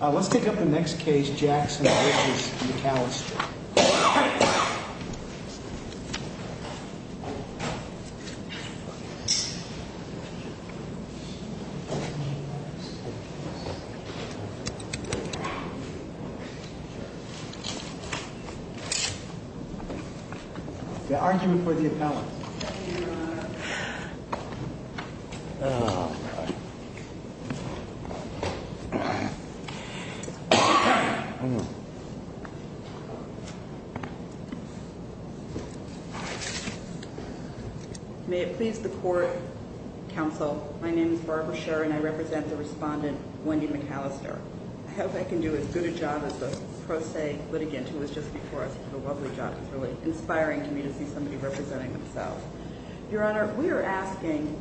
Let's take up the next case, Jackson v. McAlister. The argument for the appellant. May it please the Court, Counsel, my name is Barbara Scherr and I represent the respondent, Wendy McAlister. I hope I can do as good a job as the pro se litigant who was just before us did a lovely job. It's really inspiring to me to see somebody representing themselves. Your Honor, we are asking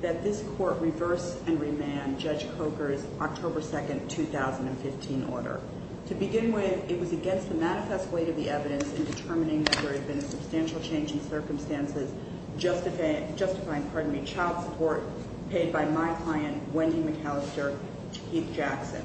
that this Court reverse and remand Judge Coker's October 2nd, 2015 order. To begin with, it was against the manifest weight of the evidence in determining that there had been a substantial change in circumstances justifying child support paid by my client, Wendy McAlister, to Keith Jackson.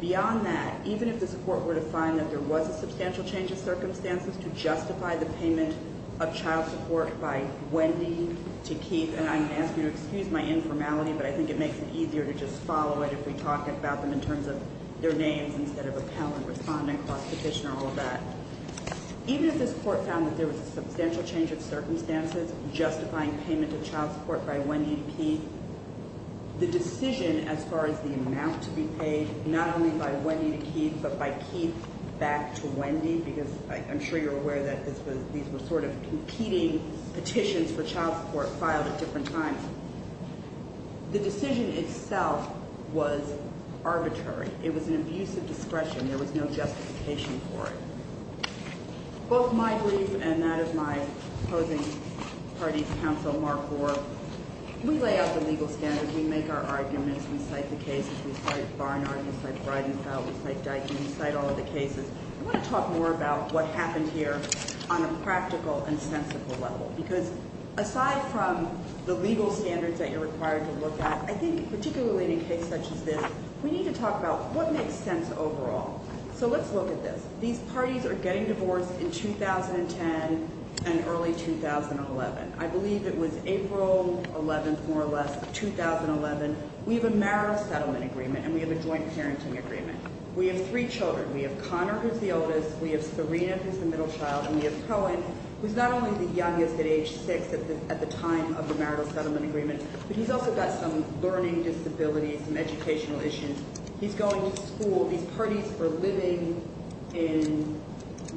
Beyond that, even if this Court were to find that there was a substantial change of circumstances to justify the payment of child support by Wendy to Keith, and I'm going to ask you to excuse my informality, but I think it makes it easier to just follow it if we talk about them in terms of their names instead of appellant, respondent, cross petitioner, all of that. Even if this Court found that there was a substantial change of circumstances justifying payment of child support by Wendy to Keith, the decision as far as the amount to be paid, not only by Wendy to Keith, but by Keith back to Wendy, because I'm sure you're aware that these were sort of competing petitions for child support filed at different times. The decision itself was arbitrary. It was an abuse of discretion. There was no justification for it. Both my brief and that of my opposing party's counsel, Mark Gore, we lay out the legal standards. We make our arguments. We cite the cases. We cite Barnard. We cite Bridenfell. We cite Dykin. We cite all of the cases. I want to talk more about what happened here on a practical and sensible level because aside from the legal standards that you're required to look at, I think particularly in a case such as this, we need to talk about what makes sense overall. So let's look at this. These parties are getting divorced in 2010 and early 2011. I believe it was April 11th, more or less, of 2011. We have a marital settlement agreement, and we have a joint parenting agreement. We have three children. We have Connor, who's the oldest. We have Serena, who's the middle child. And we have Cohen, who's not only the youngest at age six at the time of the marital settlement agreement, but he's also got some learning disabilities, some educational issues. He's going to school. These parties were living in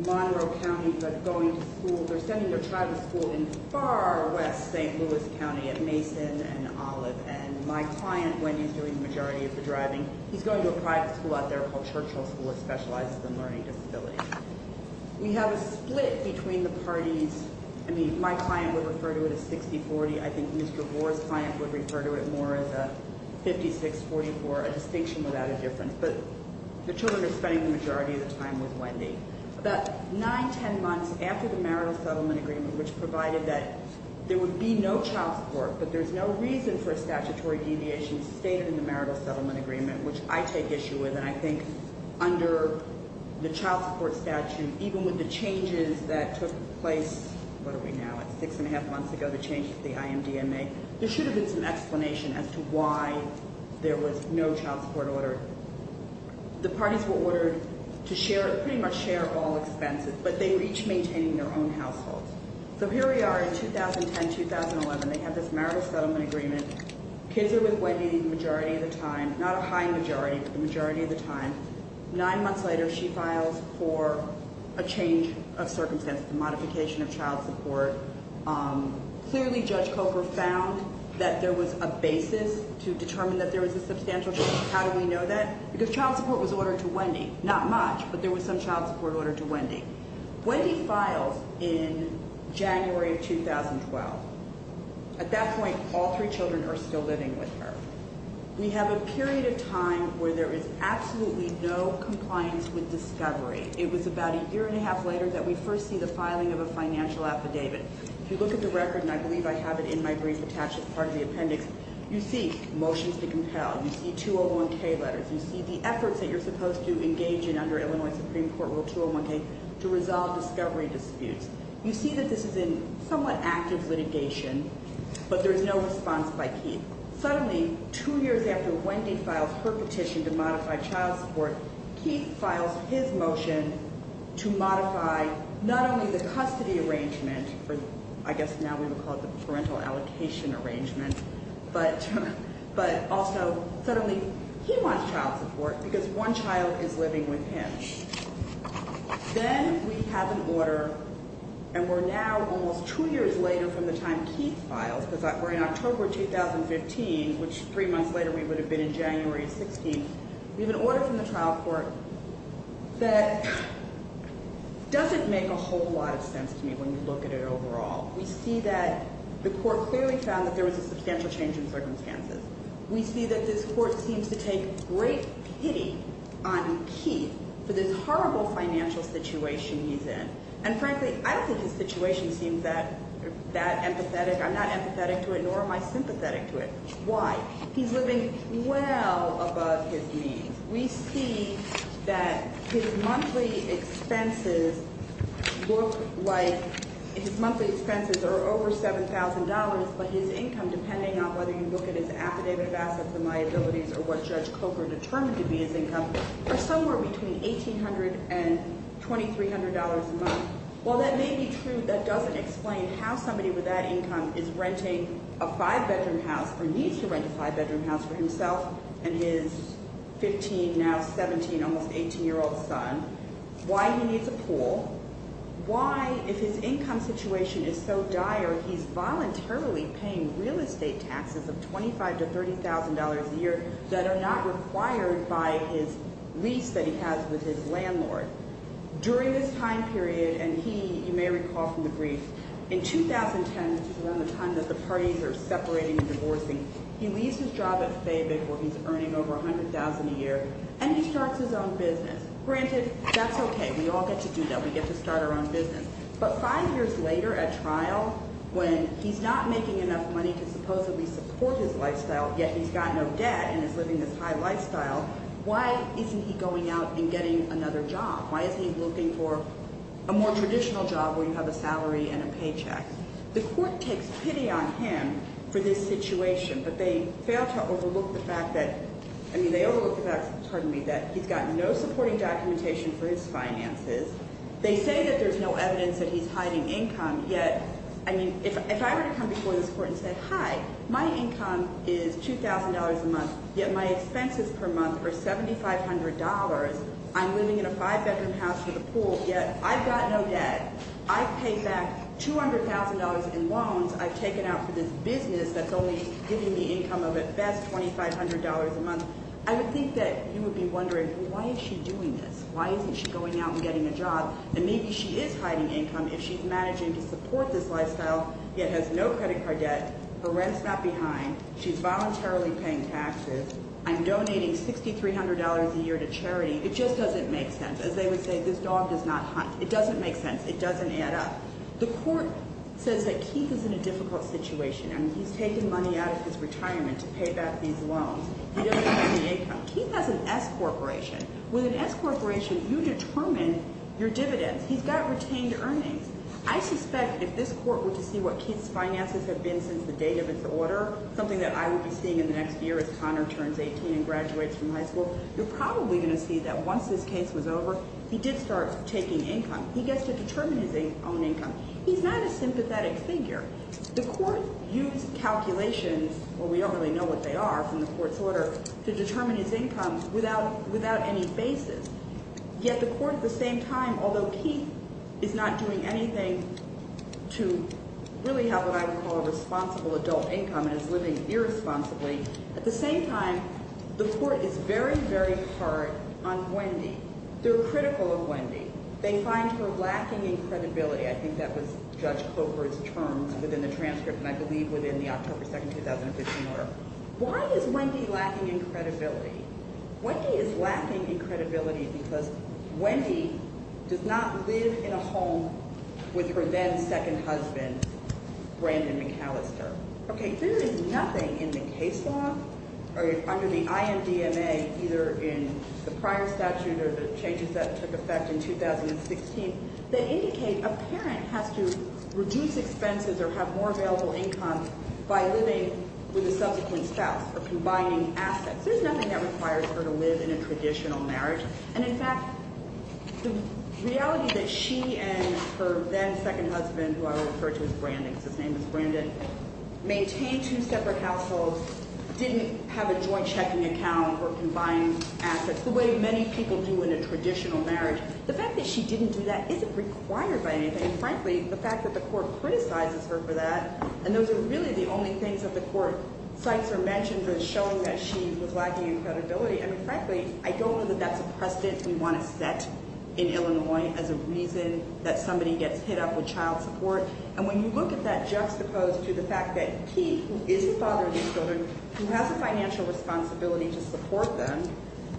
Monroe County but going to school. They're sending their child to school in far west St. Louis County at Mason and Olive. And my client, when he's doing the majority of the driving, he's going to a private school out there called Churchill School. It specializes in learning disabilities. We have a split between the parties. I mean, my client would refer to it as 60-40. I think Mr. Gore's client would refer to it more as a 56-44, a distinction without a difference. But the children are spending the majority of the time with Wendy. About nine, ten months after the marital settlement agreement, which provided that there would be no child support, but there's no reason for a statutory deviation stated in the marital settlement agreement, which I take issue with, and I think under the child support statute, even with the changes that took place, what are we now, six and a half months ago, the changes to the IMDMA, there should have been some explanation as to why there was no child support order. The parties were ordered to share, pretty much share all expenses, but they were each maintaining their own households. So here we are in 2010-2011. They have this marital settlement agreement. Kids are with Wendy the majority of the time, not a high majority, but the majority of the time. Nine months later, she files for a change of circumstances, a modification of child support. Clearly, Judge Coker found that there was a basis to determine that there was a substantial change. How do we know that? Because child support was ordered to Wendy. Not much, but there was some child support ordered to Wendy. Wendy files in January of 2012. At that point, all three children are still living with her. We have a period of time where there is absolutely no compliance with discovery. It was about a year and a half later that we first see the filing of a financial affidavit. If you look at the record, and I believe I have it in my brief attached as part of the appendix, you see motions to compel, you see 201K letters, you see the efforts that you're supposed to engage in under Illinois Supreme Court Rule 201K to resolve discovery disputes. You see that this is in somewhat active litigation, but there's no response by Keith. Suddenly, two years after Wendy files her petition to modify child support, Keith files his motion to modify not only the custody arrangement, I guess now we would call it the parental allocation arrangement, but also suddenly he wants child support because one child is living with him. Then we have an order, and we're now almost two years later from the time Keith files, because we're in October 2015, which three months later we would have been in January 16th. We have an order from the trial court that doesn't make a whole lot of sense to me when you look at it overall. We see that the court clearly found that there was a substantial change in circumstances. We see that this court seems to take great pity on Keith for this horrible financial situation he's in. And frankly, I don't think his situation seems that empathetic. I'm not empathetic to it, nor am I sympathetic to it. Why? He's living well above his means. We see that his monthly expenses look like his monthly expenses are over $7,000, but his income, depending on whether you look at his affidavit of assets and liabilities or what Judge Coker determined to be his income, are somewhere between $1,800 and $2,300 a month. While that may be true, that doesn't explain how somebody with that income is renting a five-bedroom house or needs to rent a five-bedroom house for himself and his 15, now 17, almost 18-year-old son, why he needs a pool, why, if his income situation is so dire, he's voluntarily paying real estate taxes of $25,000 to $30,000 a year that are not required by his lease that he has with his landlord. During this time period, and he, you may recall from the brief, in 2010, which is around the time that the parties are separating and divorcing, he leaves his job at FABIC, where he's earning over $100,000 a year, and he starts his own business. Granted, that's okay. We all get to do that. We get to start our own business. But five years later at trial, when he's not making enough money to supposedly support his lifestyle, yet he's got no debt and is living this high lifestyle, why isn't he going out and getting another job? Why is he looking for a more traditional job where you have a salary and a paycheck? The court takes pity on him for this situation, but they fail to overlook the fact that, I mean, they overlook the fact, pardon me, that he's got no supporting documentation for his finances. They say that there's no evidence that he's hiding income, yet, I mean, if I were to come before this court and say, hi, my income is $2,000 a month, yet my expenses per month are $7,500. I'm living in a five-bedroom house with a pool, yet I've got no debt. I pay back $200,000 in loans I've taken out for this business that's only giving me income of at best $2,500 a month. I would think that you would be wondering, why is she doing this? Why isn't she going out and getting a job? And maybe she is hiding income if she's managing to support this lifestyle, yet has no credit card debt. Her rent's not behind. She's voluntarily paying taxes. I'm donating $6,300 a year to charity. It just doesn't make sense. As they would say, this dog does not hunt. It doesn't make sense. It doesn't add up. The court says that Keith is in a difficult situation, and he's taken money out of his retirement to pay back these loans. He doesn't have any income. Keith has an S corporation. With an S corporation, you determine your dividends. He's got retained earnings. I suspect if this court were to see what Keith's finances have been since the date of his order, something that I would be seeing in the next year as Connor turns 18 and graduates from high school, you're probably going to see that once this case was over, he did start taking income. He gets to determine his own income. He's not a sympathetic figure. The court used calculations, or we don't really know what they are from the court's order, to determine his income without any basis. Yet the court at the same time, although Keith is not doing anything to really have what I would call a responsible adult income and is living irresponsibly, at the same time, the court is very, very hard on Wendy. They're critical of Wendy. They find her lacking in credibility. I think that was Judge Clover's terms within the transcript, and I believe within the October 2, 2015 order. Why is Wendy lacking in credibility? Wendy is lacking in credibility because Wendy does not live in a home with her then second husband, Brandon McAllister. Okay, there is nothing in the case law or under the IMDMA, either in the prior statute or the changes that took effect in 2016, that indicate a parent has to reduce expenses or have more available income by living with a subsequent spouse or combining assets. There's nothing that requires her to live in a traditional marriage. And, in fact, the reality that she and her then second husband, who I will refer to as Brandon because his name is Brandon, maintained two separate households, didn't have a joint checking account or combined assets, the way many people do in a traditional marriage. The fact that she didn't do that isn't required by anything. Frankly, the fact that the court criticizes her for that, and those are really the only things that the court cites or mentions as showing that she was lacking in credibility. I mean, frankly, I don't know that that's a precedent we want to set in Illinois as a reason that somebody gets hit up with child support. And when you look at that juxtaposed to the fact that he, who is the father of these children, who has the financial responsibility to support them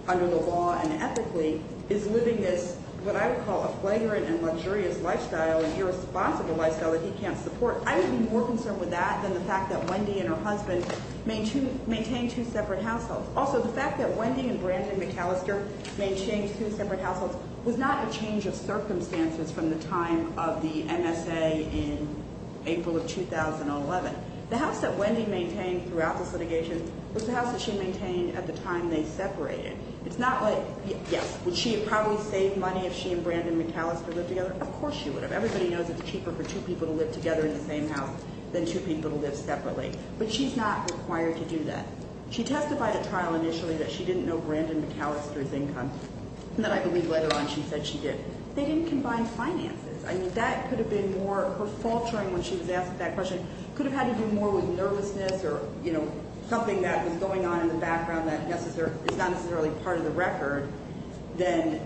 under the law and ethically, is living this, what I would call, a flagrant and luxurious lifestyle, an irresponsible lifestyle that he can't support, I would be more concerned with that than the fact that Wendy and her husband maintained two separate households. Also, the fact that Wendy and Brandon McAllister maintained two separate households was not a change of circumstances from the time of the MSA in April of 2011. The house that Wendy maintained throughout this litigation was the house that she maintained at the time they separated. It's not like, yes, would she have probably saved money if she and Brandon McAllister lived together? Of course she would have. Everybody knows it's cheaper for two people to live together in the same house than two people to live separately. But she's not required to do that. She testified at trial initially that she didn't know Brandon McAllister's income, and that I believe later on she said she did. They didn't combine finances. I mean, that could have been more her faltering when she was asked that question could have had to do more with nervousness or something that was going on in the background that is not necessarily part of the record than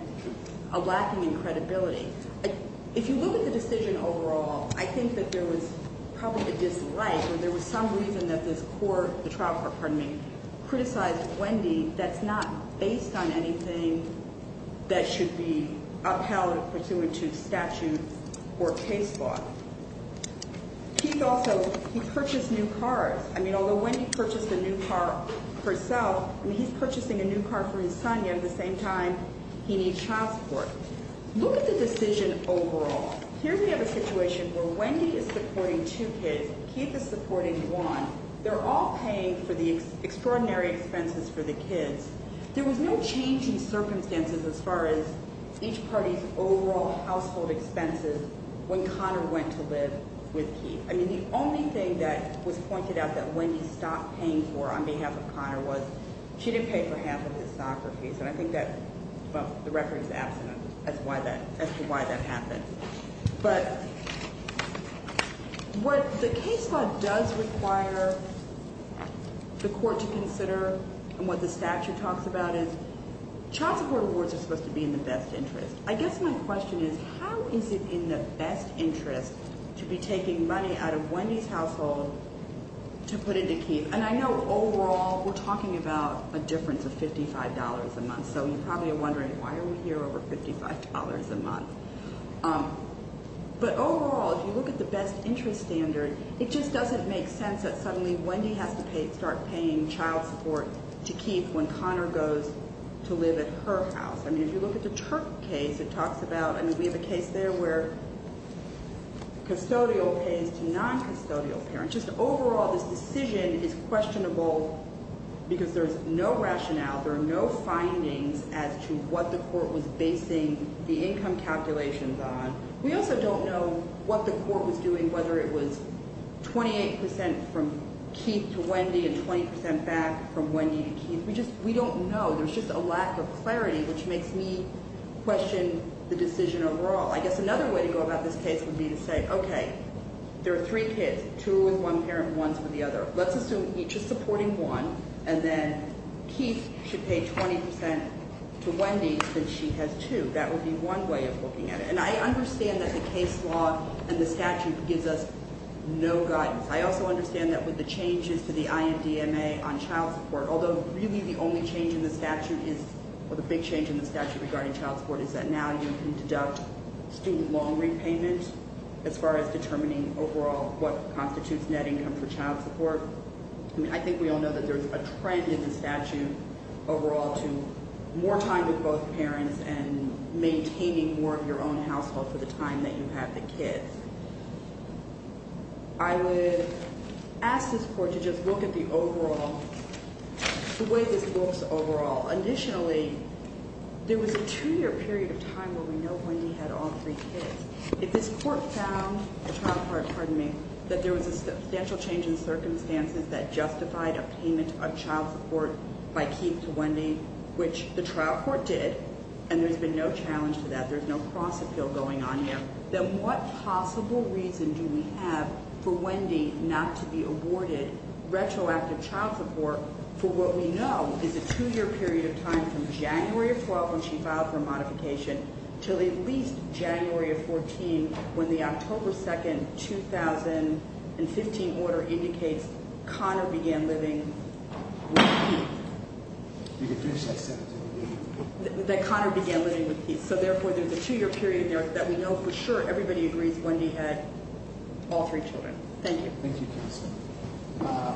a lacking in credibility. If you look at the decision overall, I think that there was probably a dislike or there was some reason that this court, the trial court, pardon me, criticized Wendy that's not based on anything that should be upheld pursuant to statute or case law. Keith also, he purchased new cars. I mean, although Wendy purchased a new car herself, I mean, he's purchasing a new car for his son, yet at the same time he needs child support. Look at the decision overall. Here we have a situation where Wendy is supporting two kids, Keith is supporting one. They're all paying for the extraordinary expenses for the kids. There was no change in circumstances as far as each party's overall household expenses when Connor went to live with Keith. I mean, the only thing that was pointed out that Wendy stopped paying for on behalf of Connor was she didn't pay for half of his soccer fees, and I think that the record is absent as to why that happened. But what the case law does require the court to consider and what the statute talks about is child support awards are supposed to be in the best interest. I guess my question is how is it in the best interest to be taking money out of Wendy's household to put into Keith? And I know overall we're talking about a difference of $55 a month, so you're probably wondering why are we here over $55 a month. But overall, if you look at the best interest standard, it just doesn't make sense that suddenly Wendy has to start paying child support to Keith when Connor goes to live at her house. I mean, if you look at the Turk case, it talks about, I mean, we have a case there where custodial pays to non-custodial parents. Just overall, this decision is questionable because there's no rationale, there are no findings as to what the court was basing the income calculations on. We also don't know what the court was doing, whether it was 28% from Keith to Wendy and 20% back from Wendy to Keith. We don't know. There's just a lack of clarity, which makes me question the decision overall. I guess another way to go about this case would be to say, okay, there are three kids, two with one parent, one with the other. Let's assume each is supporting one, and then Keith should pay 20% to Wendy since she has two. That would be one way of looking at it. And I understand that the case law and the statute gives us no guidance. I also understand that with the changes to the INDMA on child support, although really the only change in the statute is, or the big change in the statute regarding child support, is that now you can deduct student loan repayment as far as determining overall what constitutes net income for child support. I mean, I think we all know that there's a trend in the statute overall to more time with both parents and maintaining more of your own household for the time that you have the kids. I would ask this Court to just look at the overall, the way this looks overall. Initially, there was a two-year period of time where we know Wendy had all three kids. If this Court found, pardon me, that there was a substantial change in circumstances that justified a payment of child support by Keith to Wendy, which the trial court did, and there's been no challenge to that, there's no cross-appeal going on yet, then what possible reason do we have for Wendy not to be awarded retroactive child support for what we know is a two-year period of time from January of 12, when she filed for a modification, till at least January of 14, when the October 2, 2015 order indicates Connor began living with Keith. You can finish that sentence. That Connor began living with Keith. So, therefore, there's a two-year period there that we know for sure everybody agrees Wendy had all three children. Thank you. Thank you, counsel.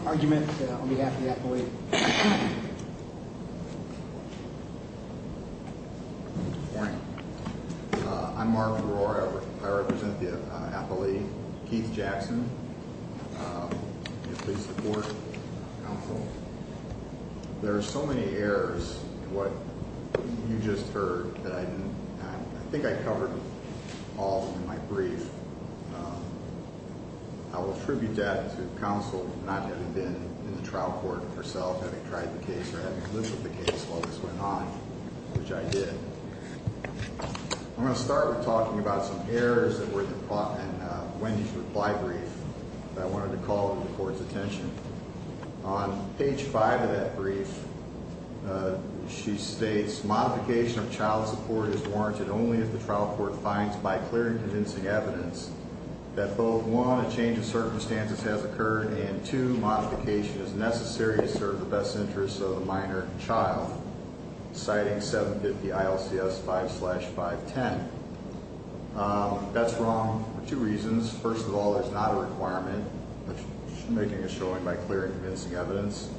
Argument on behalf of the appellee. Good morning. I'm Mark Brewer. I represent the appellee, Keith Jackson. May it please the Court, counsel. There are so many errors in what you just heard that I think I covered all in my brief. I will attribute that to counsel not having been in the trial court herself, having tried the case, or having lived with the case while this went on, which I did. I'm going to start with talking about some errors that were in Wendy's reply brief that I wanted to call to the Court's attention. On page five of that brief, she states, Modification of child support is warranted only if the trial court finds, by clear and convincing evidence, that both, one, a change of circumstances has occurred, and, two, modification is necessary to serve the best interests of the minor child. Citing 750 ILCS 5-510. That's wrong for two reasons. First of all, there's not a requirement. She's making a showing by clear and convincing evidence.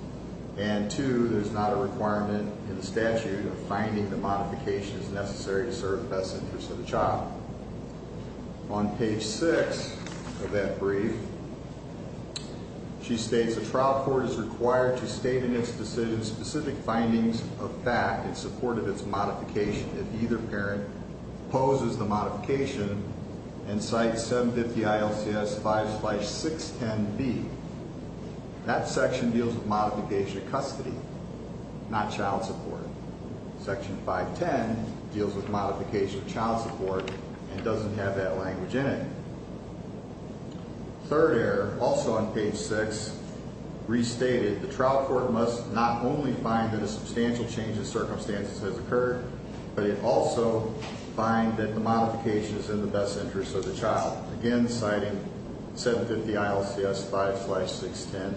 And, two, there's not a requirement in the statute of finding that modification is necessary to serve the best interests of the child. On page six of that brief, she states, A trial court is required to state in its decision specific findings of fact in support of its modification if either parent opposes the modification and cites 750 ILCS 5-610B. That section deals with modification of custody, not child support. Section 510 deals with modification of child support and doesn't have that language in it. Third error, also on page six, restated, the trial court must not only find that a substantial change of circumstances has occurred, but it also find that the modification is in the best interest of the child. Again, citing 750 ILCS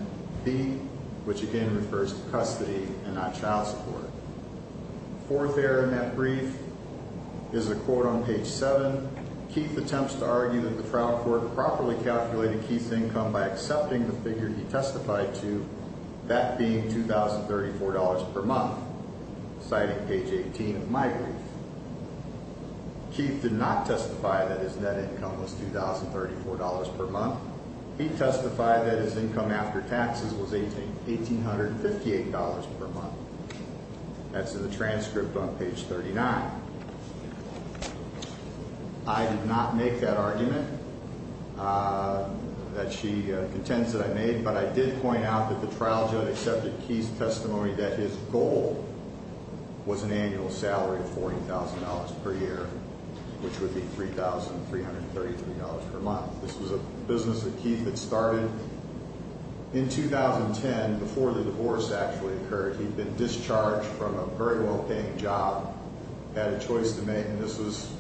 5-610B, which again refers to custody and not child support. Fourth error in that brief is a quote on page seven. Keith attempts to argue that the trial court properly calculated Keith's income by accepting the figure he testified to, that being $2,034 per month, citing page 18 of my brief. Keith did not testify that his net income was $2,034 per month. He testified that his income after taxes was $1,858 per month. That's in the transcript on page 39. I did not make that argument that she contends that I made, but I did point out that the trial judge accepted Keith's testimony that his goal was an annual salary of $14,000 per year, which would be $3,333 per month. This was a business that Keith had started in 2010 before the divorce actually occurred. He'd been discharged from a very well-paying job, had a choice to make, and this was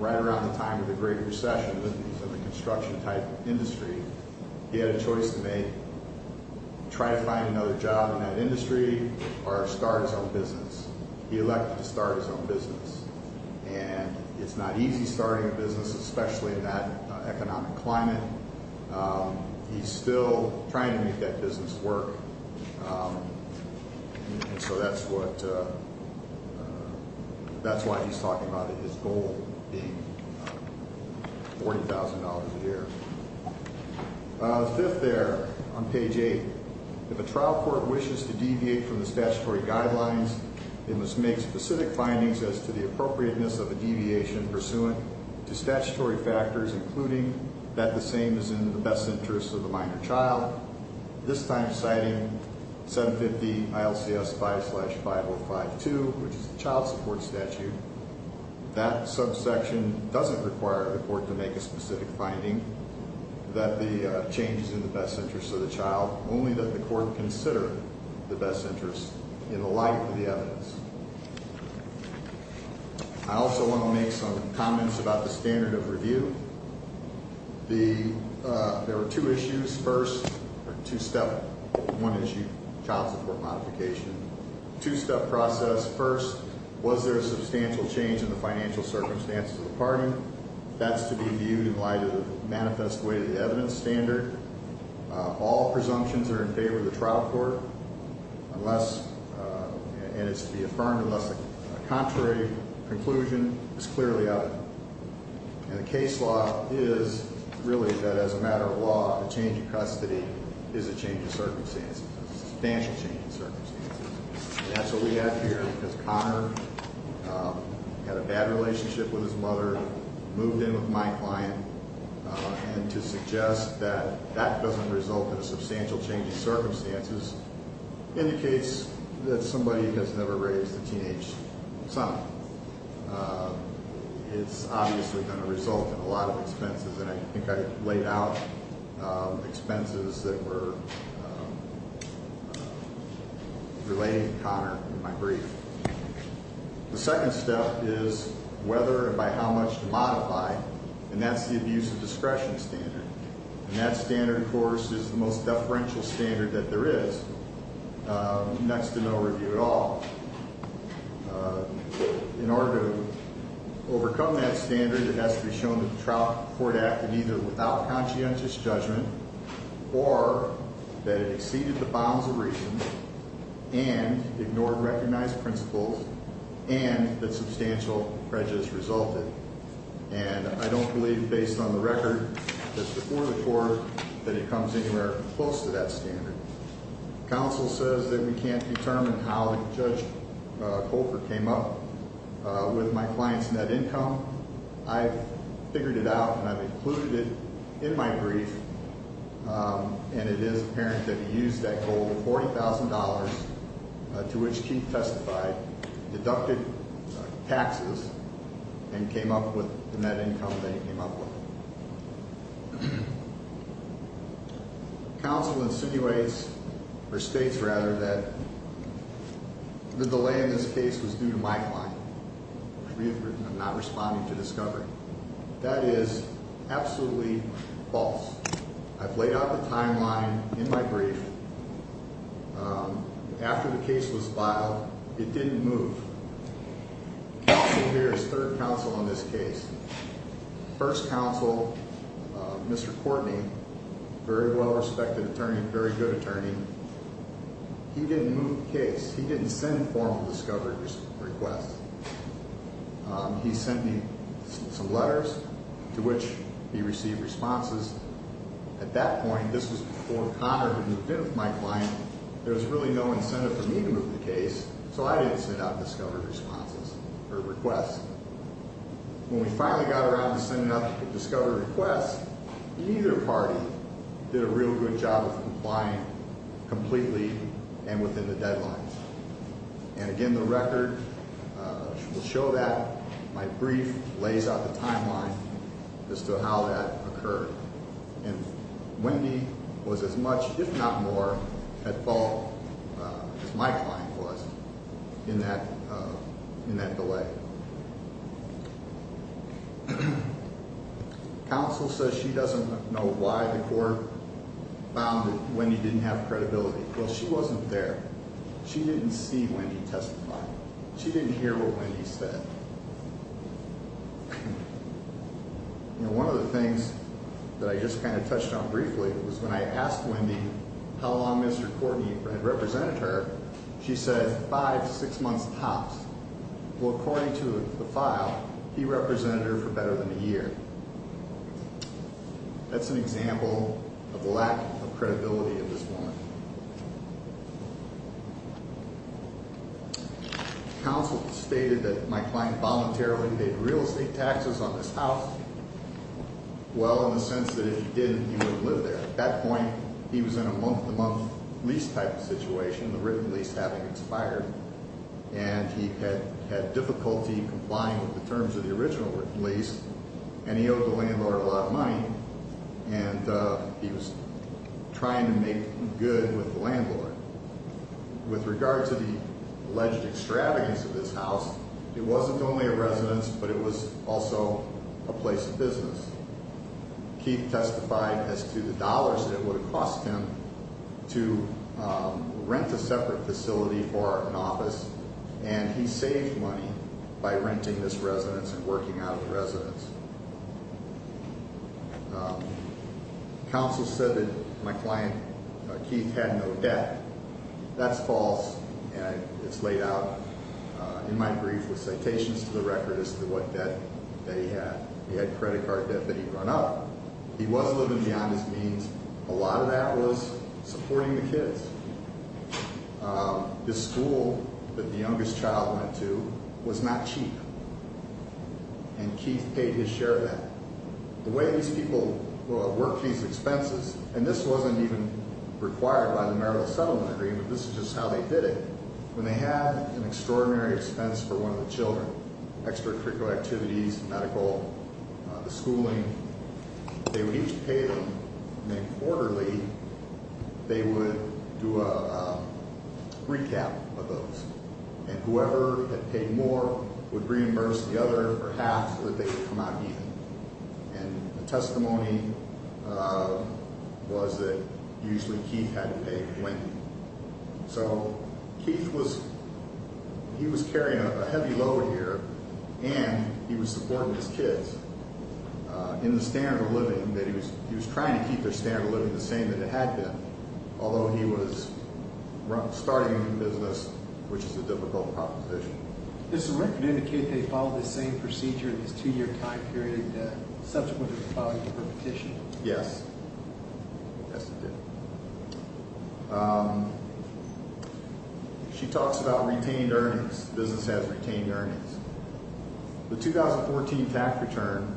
right around the time of the Great Recession when he was in the construction-type industry. He had a choice to make, try to find another job in that industry or start his own business. He elected to start his own business, and it's not easy starting a business, especially in that economic climate. He's still trying to make that business work, and so that's why he's talking about his goal being $40,000 a year. Fifth there on page 8, if a trial court wishes to deviate from the statutory guidelines, it must make specific findings as to the appropriateness of a deviation pursuant to statutory factors, including that the same is in the best interest of the minor child, this time citing 750-ILCS-5052, which is the child support statute. That subsection doesn't require the court to make a specific finding that the change is in the best interest of the child, only that the court consider the best interest in the light of the evidence. I also want to make some comments about the standard of review. There were two issues first, or two-step, one issue, child support modification. Two-step process. First, was there a substantial change in the financial circumstances of the party? That's to be viewed in light of the manifest way to the evidence standard. All presumptions are in favor of the trial court, and it's to be affirmed unless a contrary conclusion is clearly evident. And the case law is really that as a matter of law, a change of custody is a change of circumstances, a substantial change of circumstances. And that's what we have here, because Connor had a bad relationship with his mother, moved in with my client, and to suggest that that doesn't result in a substantial change of circumstances indicates that somebody has never raised a teenage son. It's obviously going to result in a lot of expenses, and I think I laid out expenses that were relating to Connor in my brief. The second step is whether and by how much to modify, and that's the abuse of discretion standard. And that standard, of course, is the most deferential standard that there is, next to no review at all. In order to overcome that standard, it has to be shown that the trial court acted either without conscientious judgment or that it exceeded the bounds of reason and ignored recognized principles and that substantial prejudice resulted. And I don't believe, based on the record that's before the court, that it comes anywhere close to that standard. Counsel says that we can't determine how Judge Colford came up with my client's net income. I've figured it out and I've included it in my brief, and it is apparent that he used that goal of $40,000, to which Chief testified, deducted taxes, and came up with the net income that he came up with. Counsel insinuates, or states rather, that the delay in this case was due to my client. I'm not responding to discovery. That is absolutely false. I've laid out the timeline in my brief. After the case was filed, it didn't move. Counsel here is third counsel on this case. First counsel, Mr. Courtney, very well respected attorney, very good attorney. He didn't move the case. He didn't send formal discovery requests. He sent me some letters, to which he received responses. At that point, this was before Connor had moved in with my client, there was really no incentive for me to move the case, so I didn't send out discovery responses, or requests. When we finally got around to sending out the discovery requests, either party did a real good job of complying completely and within the deadlines. And again, the record will show that. My brief lays out the timeline as to how that occurred. And Wendy was as much, if not more, at fault as my client was in that delay. Counsel says she doesn't know why the court found that Wendy didn't have credibility. Well, she wasn't there. She didn't see Wendy testify. She didn't hear what Wendy said. You know, one of the things that I just kind of touched on briefly was when I asked Wendy how long Mr. Courtney had represented her, she said, five to six months tops. Well, according to the file, he represented her for better than a year. That's an example of the lack of credibility of this woman. Counsel stated that my client voluntarily made real estate taxes on this house. Well, in the sense that if he didn't, he wouldn't live there. At that point, he was in a month-to-month lease type of situation, the written lease having expired, and he had difficulty complying with the terms of the original lease, and he owed the landlord a lot of money, and he was trying to make good with the landlord. With regard to the alleged extravagance of this house, it wasn't only a residence, but it was also a place of business. Keith testified as to the dollars that it would have cost him to rent a separate facility for an office, and he saved money by renting this residence and working out of the residence. Counsel said that my client, Keith, had no debt. That's false, and it's laid out in my brief with citations to the record as to what debt that he had. He had credit card debt that he'd run up. He was living beyond his means. A lot of that was supporting the kids. This school that the youngest child went to was not cheap, and Keith paid his share of that. The way these people worked these expenses, and this wasn't even required by the marital settlement agreement. This is just how they did it. When they had an extraordinary expense for one of the children, extracurricular activities, medical, the schooling, they would each pay them, and then quarterly, they would do a recap of those, and whoever had paid more would reimburse the other for half so that they could come out even. The testimony was that usually Keith had to pay when. Keith was carrying a heavy load here, and he was supporting his kids in the standard of living. He was trying to keep their standard of living the same that it had been, although he was starting a new business, which is a difficult proposition. Does the record indicate that he followed the same procedure in his two-year time period, and subsequently followed the repetition? Yes, it did. She talks about retained earnings. The business has retained earnings. The 2014 tax return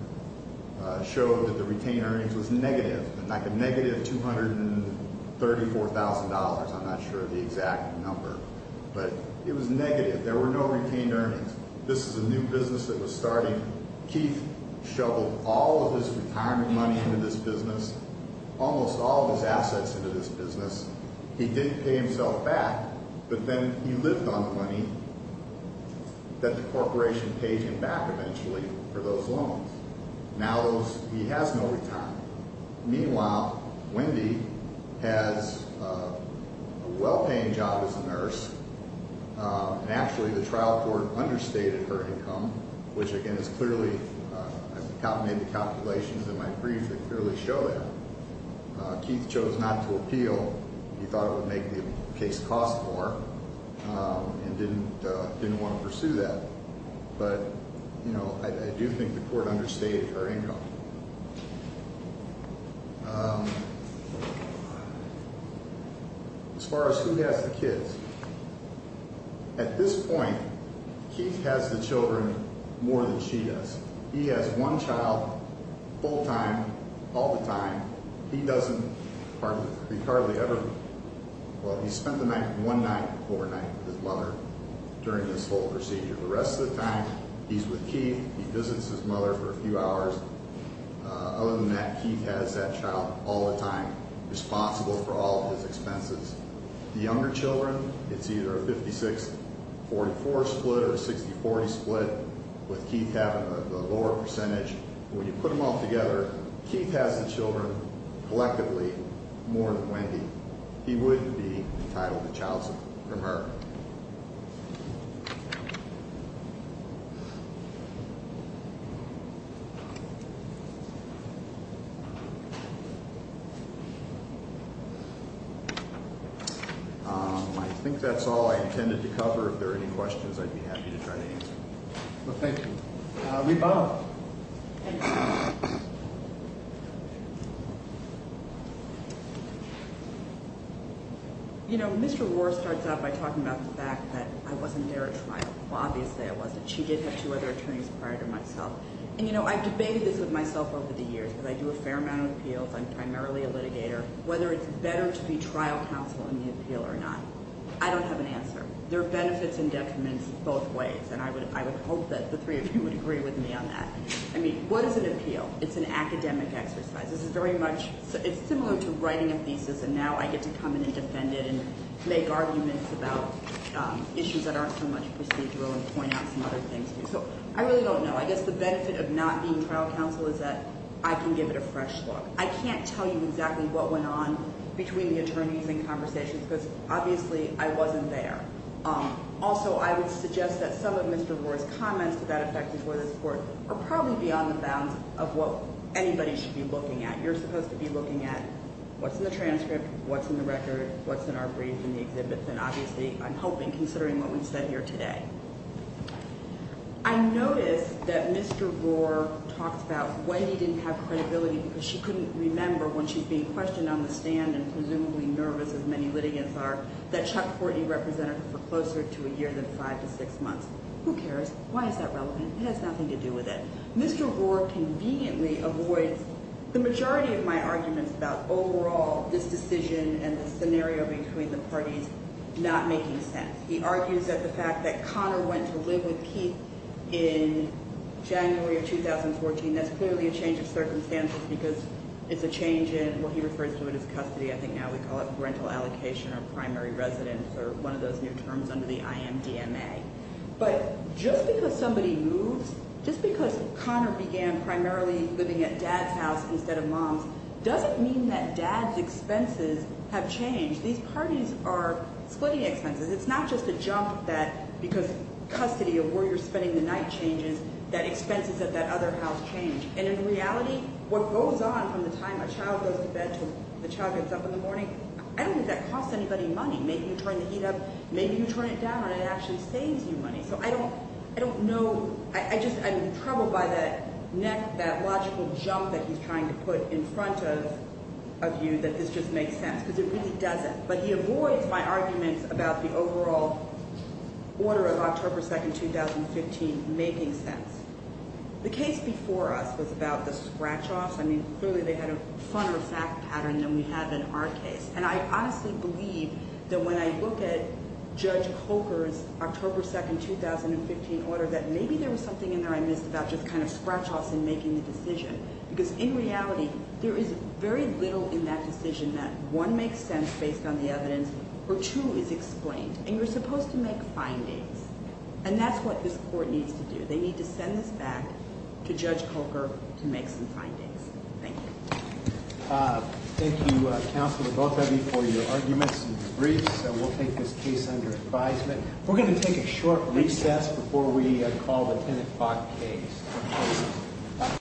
showed that the retained earnings was negative, like a negative $234,000. I'm not sure of the exact number, but it was negative. There were no retained earnings. This is a new business that was starting. Keith shoveled all of his retirement money into this business, almost all of his assets into this business. He did pay himself back, but then he lived on the money that the corporation paid him back eventually for those loans. Now he has no retirement. Meanwhile, Wendy has a well-paying job as a nurse, and actually the trial court understated her income, which, again, is clearly made the calculations in my brief that clearly show that. Keith chose not to appeal. He thought it would make the case cost more and didn't want to pursue that. But, you know, I do think the court understated her income. As far as who has the kids, at this point, Keith has the children more than she does. He has one child full-time, all the time. He doesn't, he hardly ever, well, he spent the night, one night overnight with his mother during this whole procedure. The rest of the time, he's with Keith. He visits his mother for a few hours. Other than that, Keith has that child all the time, responsible for all of his expenses. The younger children, it's either a 56-44 split or a 60-40 split with Keith having the lower percentage. When you put them all together, Keith has the children, collectively, more than Wendy. He wouldn't be entitled to child support from her. I think that's all I intended to cover. If there are any questions, I'd be happy to try to answer them. Well, thank you. Reba. You know, Mr. Roar starts out by talking about the fact that I wasn't there at trial. Well, obviously, I wasn't. She did have two other attorneys prior to myself. And, you know, I've debated this with myself over the years because I do a fair amount of appeals. I'm primarily a litigator. Whether it's better to be trial counsel in the appeal or not, I don't have an answer. There are benefits and detriments both ways, and I would hope that the three of you would agree with me on that. I mean, what is an appeal? It's an academic exercise. This is very much—it's similar to writing a thesis, and now I get to come in and defend it and make arguments about issues that aren't so much procedural and point out some other things. So I really don't know. I guess the benefit of not being trial counsel is that I can give it a fresh look. I can't tell you exactly what went on between the attorneys and conversations because, obviously, I wasn't there. Also, I would suggest that some of Mr. Roar's comments to that effect before this court are probably beyond the bounds of what anybody should be looking at. You're supposed to be looking at what's in the transcript, what's in the record, what's in our brief and the exhibit. Then, obviously, I'm hoping, considering what we've said here today. I notice that Mr. Roar talks about when he didn't have credibility because she couldn't remember when she's being questioned on the stand and presumably nervous, as many litigants are, that Chuck Fortney represented her for closer to a year than five to six months. Who cares? Why is that relevant? It has nothing to do with it. Mr. Roar conveniently avoids the majority of my arguments about overall this decision and the scenario between the parties not making sense. He argues that the fact that Connor went to live with Keith in January of 2014, that's clearly a change of circumstances because it's a change in what he refers to as custody. I think now we call it rental allocation or primary residence or one of those new terms under the IMDMA. But just because somebody moves, just because Connor began primarily living at dad's house instead of mom's doesn't mean that dad's expenses have changed. These parties are splitting expenses. It's not just a jump that because custody of where you're spending the night changes, that expenses at that other house change. And in reality, what goes on from the time a child goes to bed until the child gets up in the morning, I don't think that costs anybody money. Maybe you turn the heat up, maybe you turn it down, and it actually saves you money. So I don't know. I just am troubled by that neck, that logical jump that he's trying to put in front of you that this just makes sense because it really doesn't. But he avoids my arguments about the overall order of October 2, 2015 making sense. The case before us was about the scratch-offs. I mean, clearly they had a funner fact pattern than we have in our case. And I honestly believe that when I look at Judge Holker's October 2, 2015 order, that maybe there was something in there I missed about just kind of scratch-offs in making the decision because, in reality, there is very little in that decision that, one, makes sense based on the evidence, or, two, is explained. And you're supposed to make findings. And that's what this court needs to do. They need to send this back to Judge Holker to make some findings. Thank you. Thank you, Counselor Botheby, for your arguments and debriefs. We'll take this case under advisement. We're going to take a short recess before we call the 10 o'clock case.